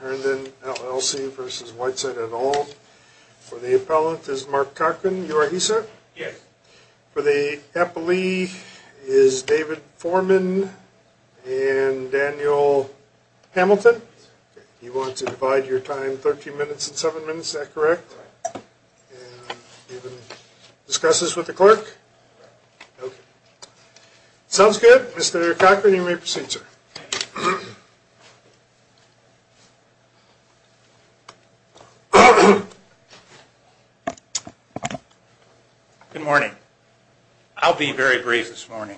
Herndon LLC v. Whiteside et al, for the appellant is Mark Cochran, you are he sir? Yes. For the appellant, you are the clerk? Yes. Sounds good. Mr. Cochran, you may proceed sir. Good morning. I'll be very brief this morning.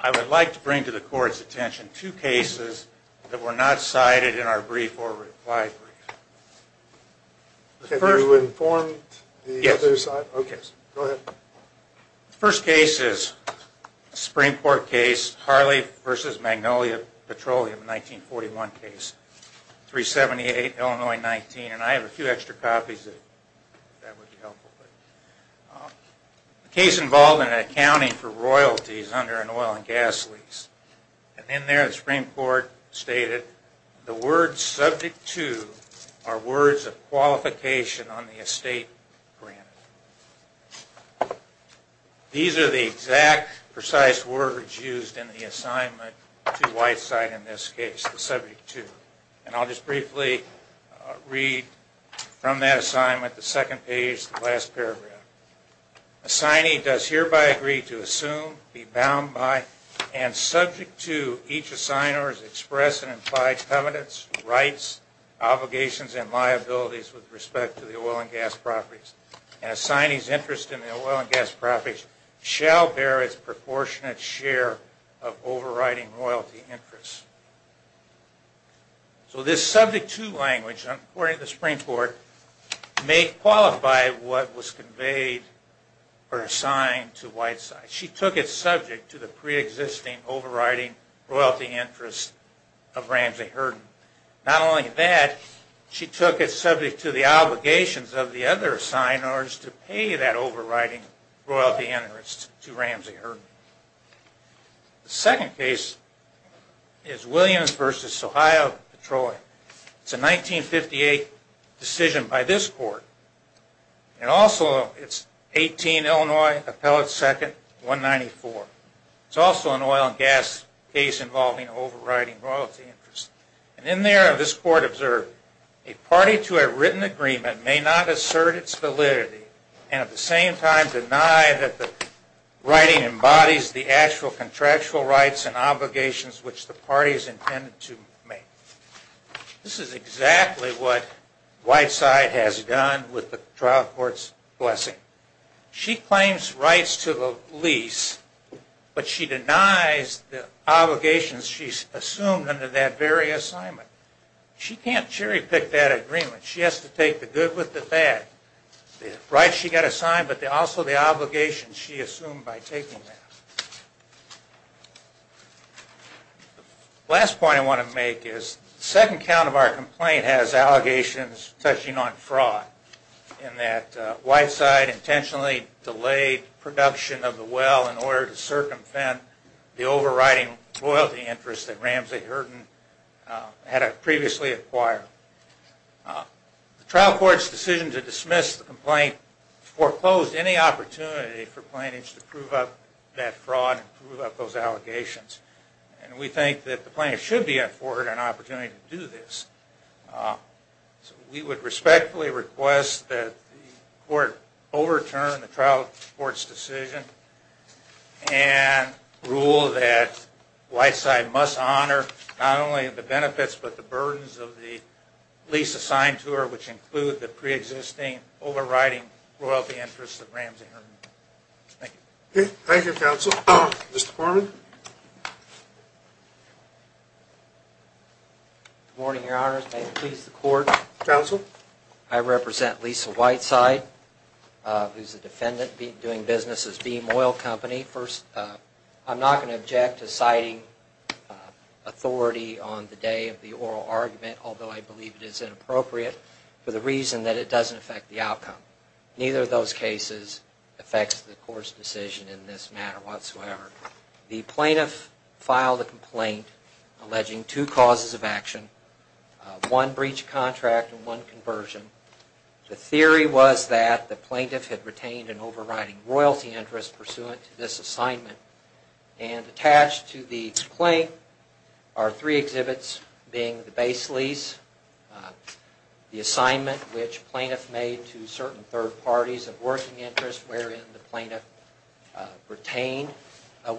I would like to bring to the court's attention two cases that were not cited in our brief or reply brief. Have you informed the other side? Yes. Okay. Go ahead. The first case is a Supreme Court case, Harley v. Magnolia Petroleum, a 1941 case, 378 Illinois 19, and I have a few extra copies if that would be helpful. The case involved an accounting for royalties under an oil and gas lease, and in there the Supreme Court stated, the words subject to are royalties. The words subject to are words of qualification on the estate grant. These are the exact precise words used in the assignment to Whiteside in this case, the subject to, and I'll just briefly read from that assignment, the second page, the last paragraph. Assignee does hereby agree to assume, be bound by, and subject to each assigner's express and implied covenants, rights, obligations, and liabilities with respect to the oil and gas properties. An assignee's interest in the oil and gas properties shall bear its proportionate share of overriding royalty interests. So this subject to language, according to the Supreme Court, may qualify what was conveyed or assigned to Whiteside. She took it subject to the pre-existing overriding royalty interest of Ramsey Hurden. Not only that, she took it subject to the obligations of the other assigners to pay that overriding royalty interest to Ramsey Hurden. The second case is Williams v. Ohio v. Detroit. It's a 1958 decision by this court, and also it's 18 Illinois Appellate 2nd 194. It's also an oil and gas case involving overriding royalty interest. And in there, this court observed, a party to a written agreement may not assert its validity and at the same time deny that the writing embodies the actual contractual rights and obligations which the party is intended to make. This is exactly what Whiteside has done with the trial court's blessing. She claims rights to the lease, but she denies the obligations she's assumed under that very assignment. She can't cherry pick that agreement. She has to take the good with the bad. The rights she got assigned, but also the obligations she assumed by taking that. The last point I want to make is the second count of our complaint has allegations touching on fraud in that Whiteside intentionally delayed production of the well in order to circumvent the overriding royalty interest that Ramsey Hurden had previously acquired. The trial court's decision to dismiss the complaint foreclosed any opportunity for plaintiffs to prove up that fraud and prove up those allegations. And we think that the plaintiffs should be afforded an opportunity to do this. We would respectfully request that the court overturn the trial court's decision and rule that Whiteside must honor not only the benefits, but the burdens of the lease assigned to her, which include the pre-existing overriding royalty interest of Ramsey Hurden. Thank you. Thank you, counsel. Mr. Foreman? Good morning, your honors. May it please the court? Counsel? I represent Lisa Whiteside, who's a defendant doing business as Beam Oil Company. First, I'm not going to object to citing authority on the day of the oral argument, although I believe it is inappropriate, for the reason that it doesn't affect the outcome. Neither of those cases affects the court's decision in this matter whatsoever. The plaintiff filed a complaint alleging two causes of action, one breach of contract and one conversion. The theory was that the plaintiff had retained an overriding royalty interest pursuant to this assignment, and attached to the complaint are three exhibits, being the base lease, the assignment which the plaintiff made to certain third parties of working interest wherein the plaintiff retained an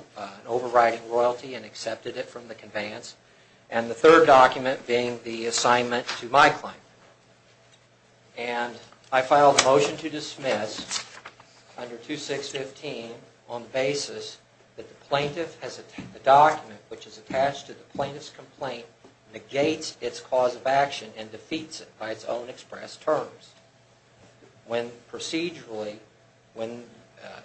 overriding royalty and accepted it from the conveyance, and the third document being the assignment to my client. And I filed a motion to dismiss under 2615 on the basis that the document which is attached to the plaintiff's complaint negates its cause of action and defeats it by its own express terms. When procedurally, when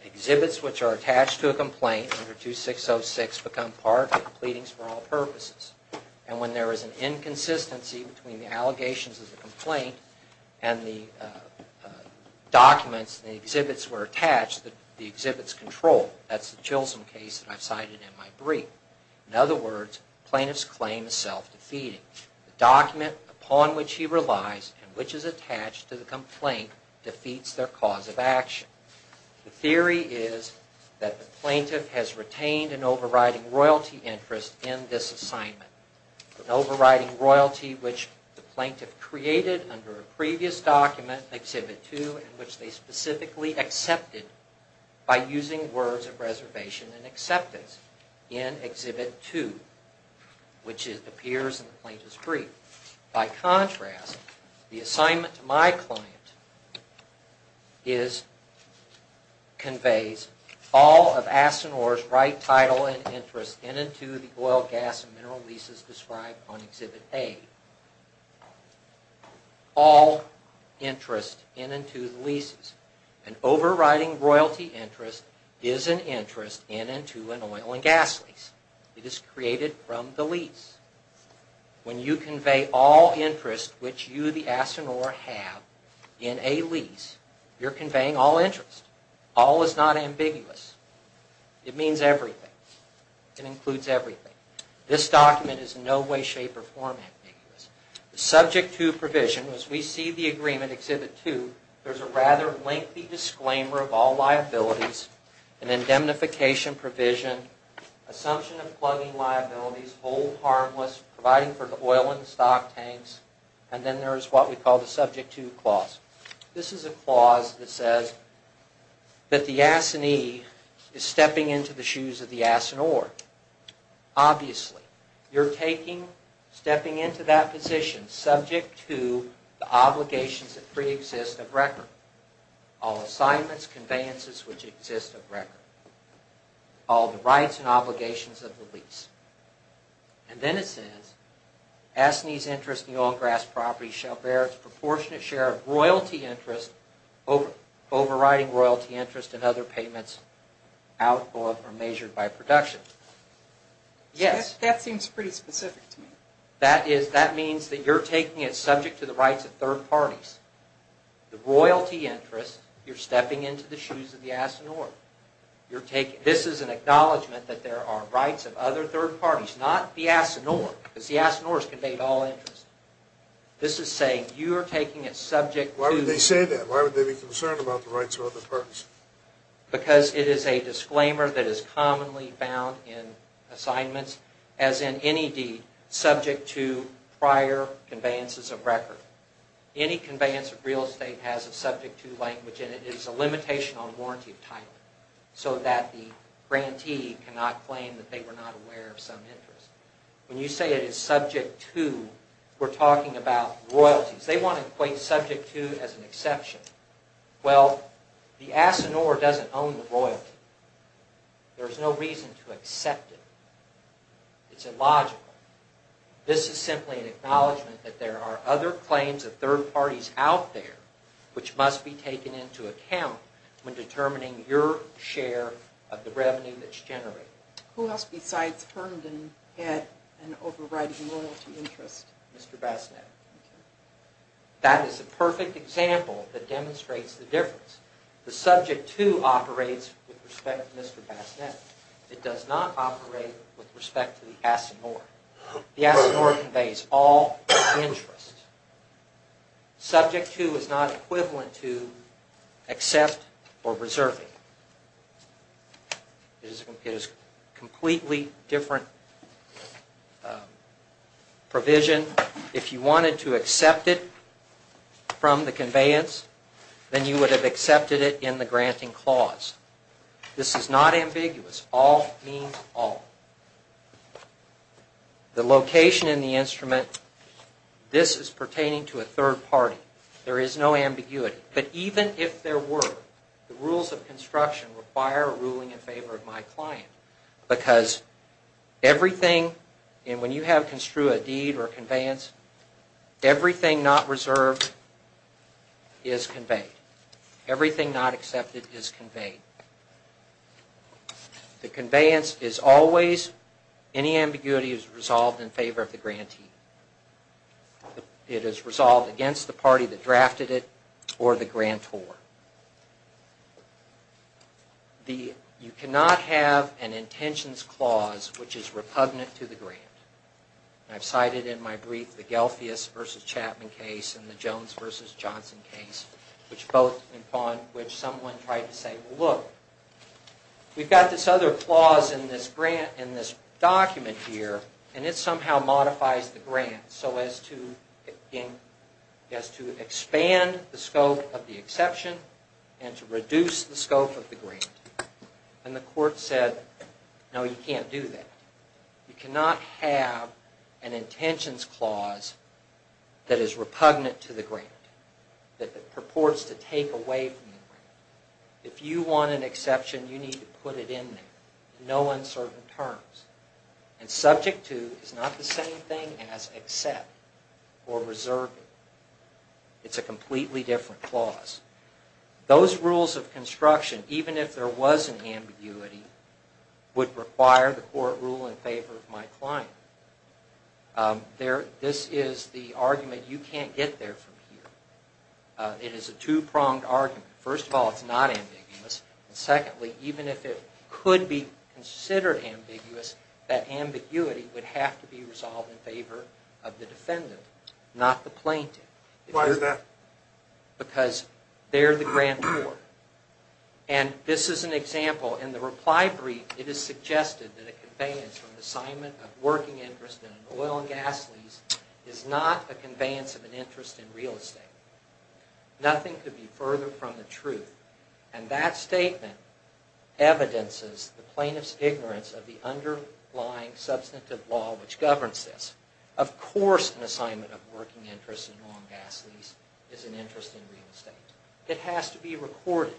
exhibits which are attached to a complaint under 2606 become part of the pleadings for all purposes, and when there is an inconsistency between the allegations of the complaint and the documents and the exhibits were attached, the exhibits control, that's the Chilson case that I've cited in my brief. In other words, the plaintiff's claim is self-defeating. The document upon which he relies and which is attached to the complaint defeats their cause of action. The theory is that the plaintiff has retained an overriding royalty interest in this assignment, an overriding royalty which the plaintiff created under a previous document, Exhibit 2, and which they specifically accepted by using words of reservation and acceptance in Exhibit 2, which appears in the plaintiff's brief. By contrast, the assignment to my client conveys all of Asinor's right title and interest in and to the oil, gas, and mineral leases described on Exhibit A. All interest in and to the leases. An overriding royalty interest is an interest in and to an oil and gas lease. It is created from the lease. When you convey all interest which you, the Asinor, have in a lease, you're conveying all interest. All is not ambiguous. It means everything. It includes everything. This document is in no way, shape, or form ambiguous. The Subject 2 provision, as we see the agreement, Exhibit 2, there's a rather lengthy disclaimer of all liabilities, an indemnification provision, assumption of plugging liabilities, hold harmless, providing for the oil and stock tanks, and then there's what we call the Subject 2 clause. This is a clause that says that the Asinee is stepping into the shoes of the Asinor. Obviously, you're stepping into that position subject to the obligations that preexist of record. All assignments, conveyances which exist of record. All the rights and obligations of the lease. And then it says, Asinee's interest in the oil and gas property shall bear its proportionate share of royalty interest overriding royalty interest and other payments outlawed or measured by production. Yes. That seems pretty specific to me. That is, that means that you're taking it subject to the rights of third parties. The royalty interest, you're stepping into the shoes of the Asinor. You're taking, this is an acknowledgment that there are rights of other third parties, not the Asinor, because the Asinors convey all interest. This is saying you are taking it subject to... As in any deed subject to prior conveyances of record. Any conveyance of real estate has a Subject 2 language in it. It is a limitation on warranty of title so that the grantee cannot claim that they were not aware of some interest. When you say it is Subject 2, we're talking about royalties. They want to equate Subject 2 as an exception. Well, the Asinor doesn't own the royalty. There's no reason to accept it. It's illogical. This is simply an acknowledgment that there are other claims of third parties out there which must be taken into account when determining your share of the revenue that's generated. Who else besides Herndon had an overriding royalty interest? Completely different provision. If you wanted to accept it from the conveyance, then you would have accepted it in the granting clause. This is not ambiguous. All means all. The location in the instrument, this is pertaining to a third party. There is no ambiguity. But even if there were, the rules of construction require a ruling in favor of my client. Because everything, and when you have construed a deed or a conveyance, everything not reserved is conveyed. Everything not accepted is conveyed. The conveyance is always, any ambiguity is resolved in favor of the grantee. It is resolved against the party that drafted it or the grantor. You cannot have an intentions clause which is repugnant to the grant. I've cited in my brief the Gelfius v. Chapman case and the Jones v. Johnson case, which both, upon which someone tried to say, look, we've got this other clause in this grant, in this document here, and it somehow modifies the grant so as to expand the scope of the exception. And to reduce the scope of the grant. And the court said, no, you can't do that. You cannot have an intentions clause that is repugnant to the grant, that purports to take away from the grant. If you want an exception, you need to put it in there in no uncertain terms. And subject to is not the same thing as accept or reserve it. It's a completely different clause. Those rules of construction, even if there was an ambiguity, would require the court rule in favor of my client. This is the argument you can't get there from here. It is a two-pronged argument. First of all, it's not ambiguous. And secondly, even if it could be considered ambiguous, that ambiguity would have to be resolved in favor of the defendant, not the plaintiff. Why is that? Because they're the grant court. And this is an example. In the reply brief, it is suggested that a conveyance from the assignment of working interest in an oil and gas lease is not a conveyance of an interest in real estate. Nothing could be further from the truth. And that statement evidences the plaintiff's ignorance of the underlying substantive law which governs this. Of course an assignment of working interest in an oil and gas lease is an interest in real estate. It has to be recorded.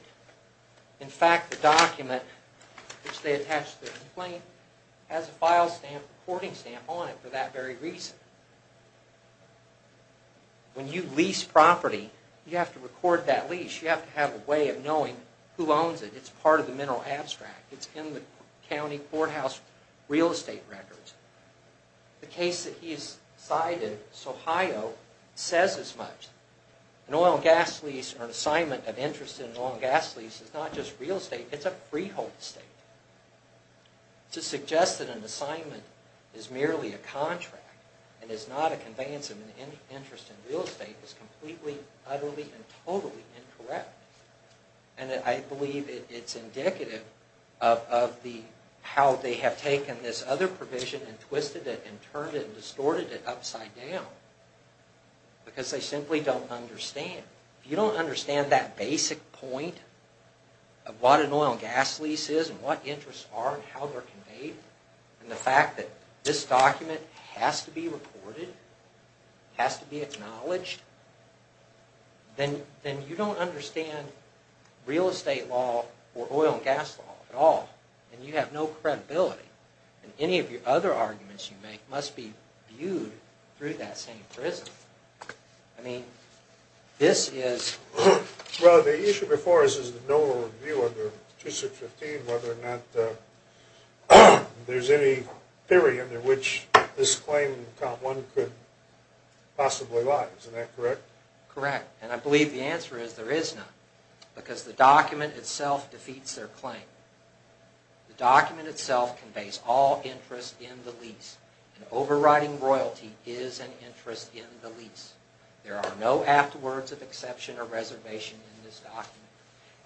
In fact, the document which they attached to the complaint has a file recording stamp on it for that very reason. When you lease property, you have to record that lease. You have to have a way of knowing who owns it. It's part of the mineral abstract. It's in the county courthouse real estate records. The case that he's cited, Sohio, says as much. An oil and gas lease or an assignment of interest in an oil and gas lease is not just real estate, it's a freehold estate. To suggest that an assignment is merely a contract and is not a conveyance of an interest in real estate is completely, utterly, and totally incorrect. And I believe it's indicative of how they have taken this other provision and twisted it and turned it and distorted it upside down. Because they simply don't understand. If you don't understand that basic point of what an oil and gas lease is and what interests are and how they're conveyed, and the fact that this document has to be recorded, has to be acknowledged, then you don't understand real estate law or oil and gas law at all. And you have no credibility. And any of the other arguments you make must be viewed through that same prism. I mean, this is... Well, the issue before us is that no one will review under 2615 whether or not there's any theory under which this claim could possibly lie. Isn't that correct? Correct. And I believe the answer is there is none. Because the document itself defeats their claim. The document itself conveys all interest in the lease. And overriding royalty is an interest in the lease. There are no afterwords of exception or reservation in this document.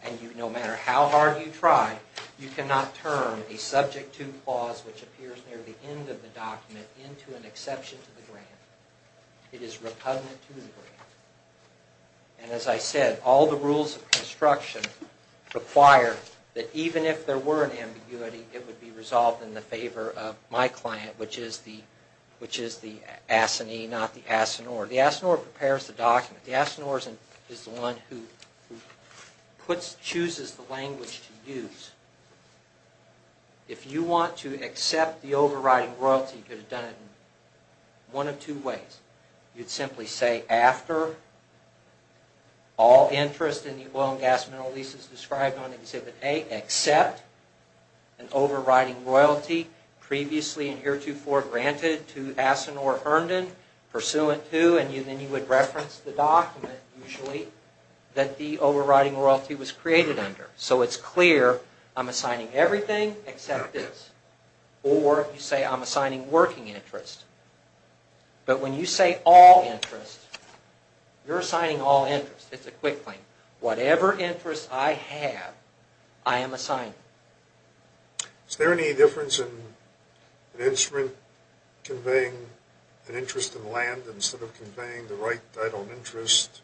And no matter how hard you try, you cannot turn a subject to clause which appears near the end of the document into an exception to the grant. It is repugnant to the grant. And as I said, all the rules of construction require that even if there were an ambiguity, it would be resolved in the favor of my client, which is the assinee, not the assonoir. The assonoir prepares the document. The assonoir is the one who chooses the language to use. If you want to accept the overriding royalty, you could have done it in one of two ways. You'd simply say, after all interest in the oil and gas mineral lease is described on Exhibit A, accept an overriding royalty previously and heretofore granted to assonoir Herndon, pursuant to, and then you would reference the document, usually, that the overriding royalty was created under. So it's clear I'm assigning everything except this. Or you say I'm assigning working interest. But when you say all interest, you're assigning all interest. It's a quick thing. Whatever interest I have, I am assigning. Is there any difference in an instrument conveying an interest in land instead of conveying the right title of interest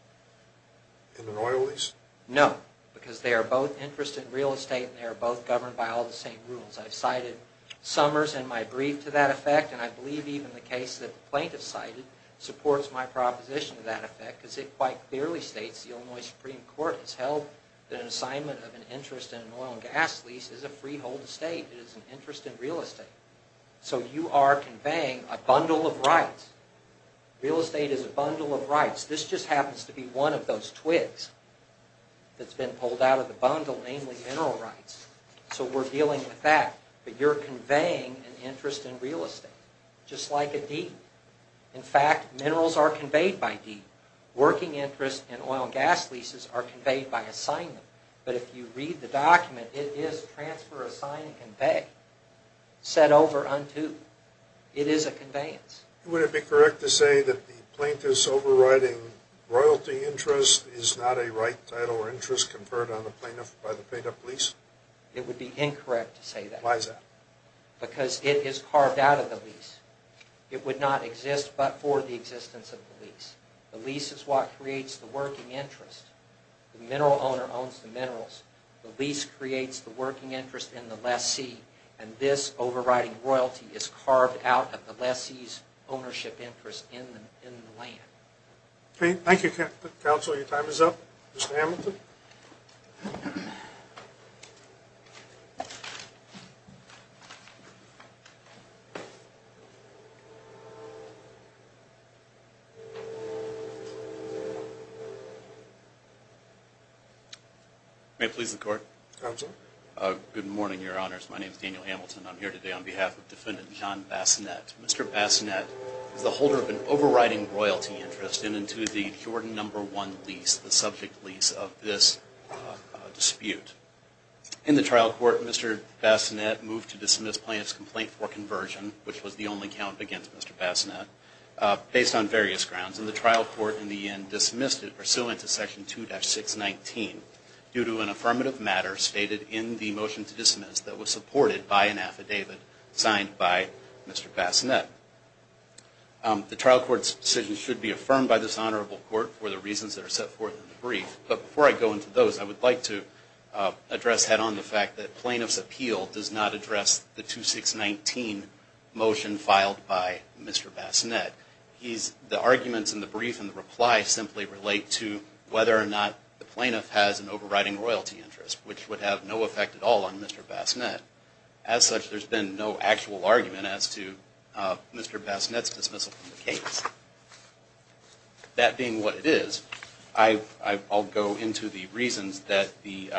in an oil lease? No, because they are both interest in real estate and they are both governed by all the same rules. I've cited Summers in my brief to that effect, and I believe even the case that the plaintiff cited supports my proposition to that effect, because it quite clearly states the Illinois Supreme Court has held that an assignment of an interest in an oil and gas lease is a freehold estate. It is an interest in real estate. So you are conveying a bundle of rights. Real estate is a bundle of rights. This just happens to be one of those twigs that's been pulled out of the bundle, namely mineral rights. So we're dealing with that. But you're conveying an interest in real estate, just like a deed. In fact, minerals are conveyed by deed. Working interest and oil and gas leases are conveyed by assignment. But if you read the document, it is transfer, assign, and convey, set over, unto. It is a conveyance. Would it be correct to say that the plaintiff's overriding royalty interest is not a right title or interest conferred on the plaintiff by the paid-up lease? It would be incorrect to say that. Why is that? Because it is carved out of the lease. It would not exist but for the existence of the lease. The lease is what creates the working interest. The mineral owner owns the minerals. The lease creates the working interest in the lessee. And this overriding royalty is carved out of the lessee's ownership interest in the land. Okay. Thank you, Counselor. Your time is up. Mr. Hamilton? Counselor? May it please the Court? Counsel? Good morning, Your Honors. My name is Daniel Hamilton. I'm here today on behalf of Defendant John Bassanet. Mr. Bassanet is the holder of an overriding royalty interest in and to the Jordan No. 1 lease, the subject lease of this dispute. In the trial court, Mr. Bassanet moved to dismiss plaintiff's complaint for conversion, which was the only count against Mr. Bassanet, based on various grounds. And the trial court in the end dismissed it pursuant to Section 2-619 due to an affirmative matter stated in the motion to dismiss that was supported by an affidavit signed by Mr. Bassanet. The trial court's decision should be affirmed by this honorable court for the reasons that are set forth in the brief. But before I go into those, I would like to address head-on the fact that plaintiff's appeal does not address the 2-619 motion filed by Mr. Bassanet. The arguments in the brief and the reply simply relate to whether or not the plaintiff has an overriding royalty interest, which would have no effect at all on Mr. Bassanet. As such, there's been no actual argument as to Mr. Bassanet's dismissal from the case. That being what it is, I'll go into the reasons that the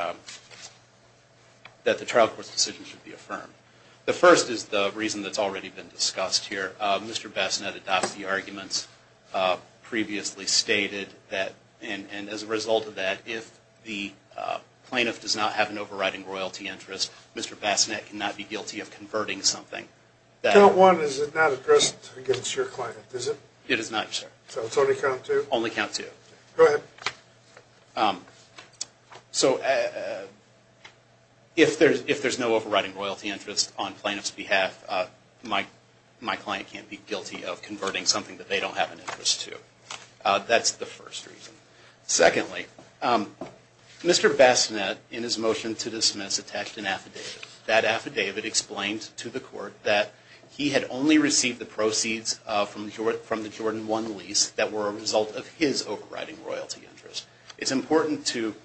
trial court's decision should be affirmed. The first is the reason that's already been discussed here. Mr. Bassanet adopts the arguments previously stated, and as a result of that, if the plaintiff does not have an overriding royalty interest, Mr. Bassanet cannot be guilty of converting something. Count 1 is not addressed against your client, is it? It is not, sir. So it's only count 2? Only count 2. Go ahead. So if there's no overriding royalty interest on plaintiff's behalf, my client can't be guilty of converting something that they don't have an interest to. That's the first reason. Secondly, Mr. Bassanet, in his motion to dismiss, attached an affidavit. That affidavit explained to the court that he had only received the proceeds from the Jordan 1 lease that were a result of his overriding royalty interest. It's important to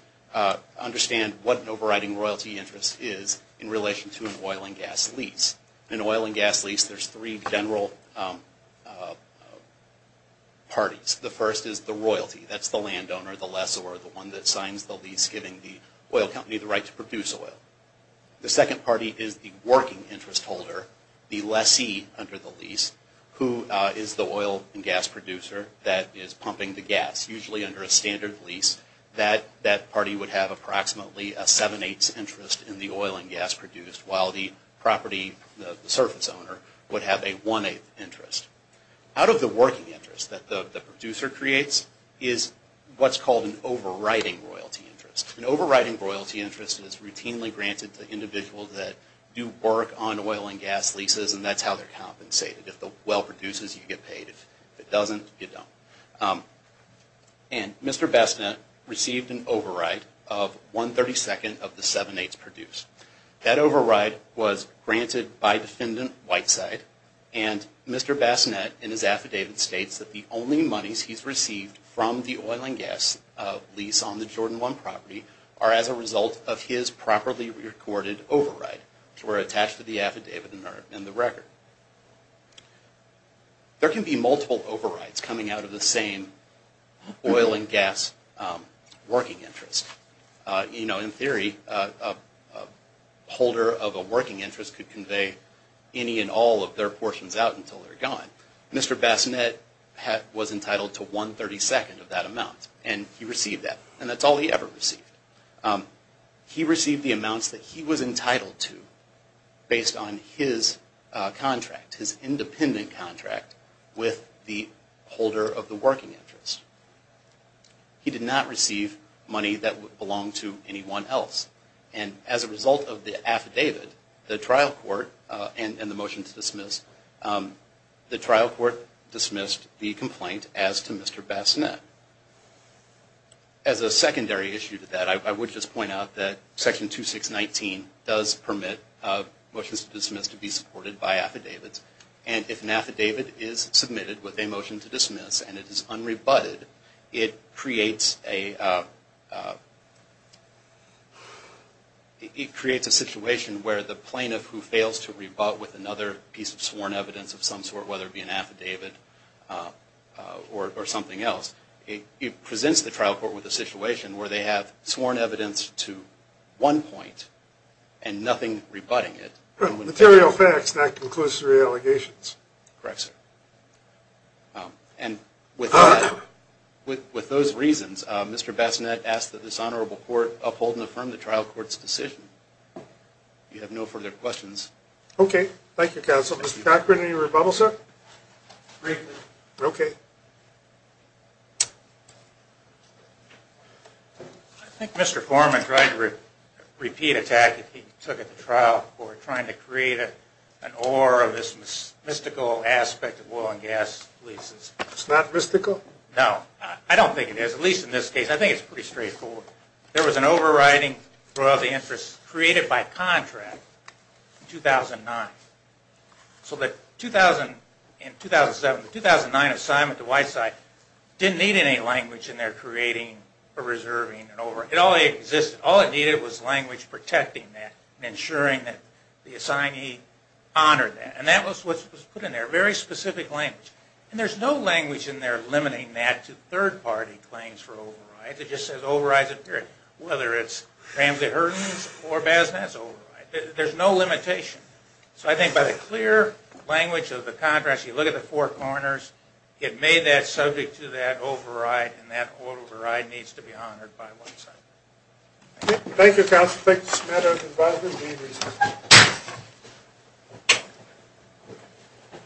understand what an overriding royalty interest is in relation to an oil and gas lease. In an oil and gas lease, there's three general parties. The first is the royalty. That's the landowner, the lessor, the one that signs the lease giving the oil company the right to produce oil. The second party is the working interest holder, the lessee under the lease, who is the oil and gas producer that is pumping the gas. Usually under a standard lease, that party would have approximately a seven-eighths interest in the oil and gas produced, while the property, the surface owner, would have a one-eighth interest. Out of the working interest that the producer creates is what's called an overriding royalty interest. An overriding royalty interest is routinely granted to individuals that do work on oil and gas leases, and that's how they're compensated. If the well produces, you get paid. If it doesn't, you don't. And Mr. Bassanet received an override of one-thirty-second of the seven-eighths produced. That override was granted by Defendant Whiteside. And Mr. Bassanet, in his affidavit, states that the only monies he's received from the oil and gas lease on the Jordan One property are as a result of his properly recorded override, which were attached to the affidavit and the record. There can be multiple overrides coming out of the same oil and gas working interest. In theory, a holder of a working interest could convey any and all of their portions out until they're gone. Mr. Bassanet was entitled to one-thirty-second of that amount, and he received that. And that's all he ever received. He received the amounts that he was entitled to based on his contract, his independent contract with the holder of the working interest. He did not receive money that belonged to anyone else. And as a result of the affidavit, the trial court and the motion to dismiss, the trial court dismissed the complaint as to Mr. Bassanet. As a secondary issue to that, I would just point out that Section 2619 does permit motions to dismiss to be supported by affidavits. And if an affidavit is submitted with a motion to dismiss and it is unrebutted, it creates a situation where the plaintiff who fails to rebut with another piece of sworn evidence of some sort, whether it be an affidavit or something else, it presents the trial court with a situation where they have sworn evidence to one point and nothing rebutting it. Material facts, not conclusive allegations. Correct, sir. And with those reasons, Mr. Bassanet asked that this honorable court uphold and affirm the trial court's decision. Do you have no further questions? Okay. Thank you, counsel. Mr. Cochran, any rebuttals, sir? Okay. I think Mr. Foreman tried to repeat attack that he took at the trial court, trying to create an aura of this mystical aspect of oil and gas leases. It's not mystical? No. I don't think it is, at least in this case. I think it's pretty straightforward. There was an overriding for all the interests created by contract in 2009. So the 2009 assignment to Whiteside didn't need any language in there creating or reserving an overriding. It all existed. All it needed was language protecting that and ensuring that the assignee honored that. And that was what was put in there, very specific language. And there's no language in there limiting that to third-party claims for overrides. It just says overrides, period. Whether it's Ramsey-Hurdon's or Bassanet's, overrides. There's no limitation. So I think by the clear language of the contract, if you look at the four corners, it made that subject to that override, and that override needs to be honored by Whiteside. Thank you, Counselor. Thank you, Mr. Smith. I'd like to invite him to the meeting.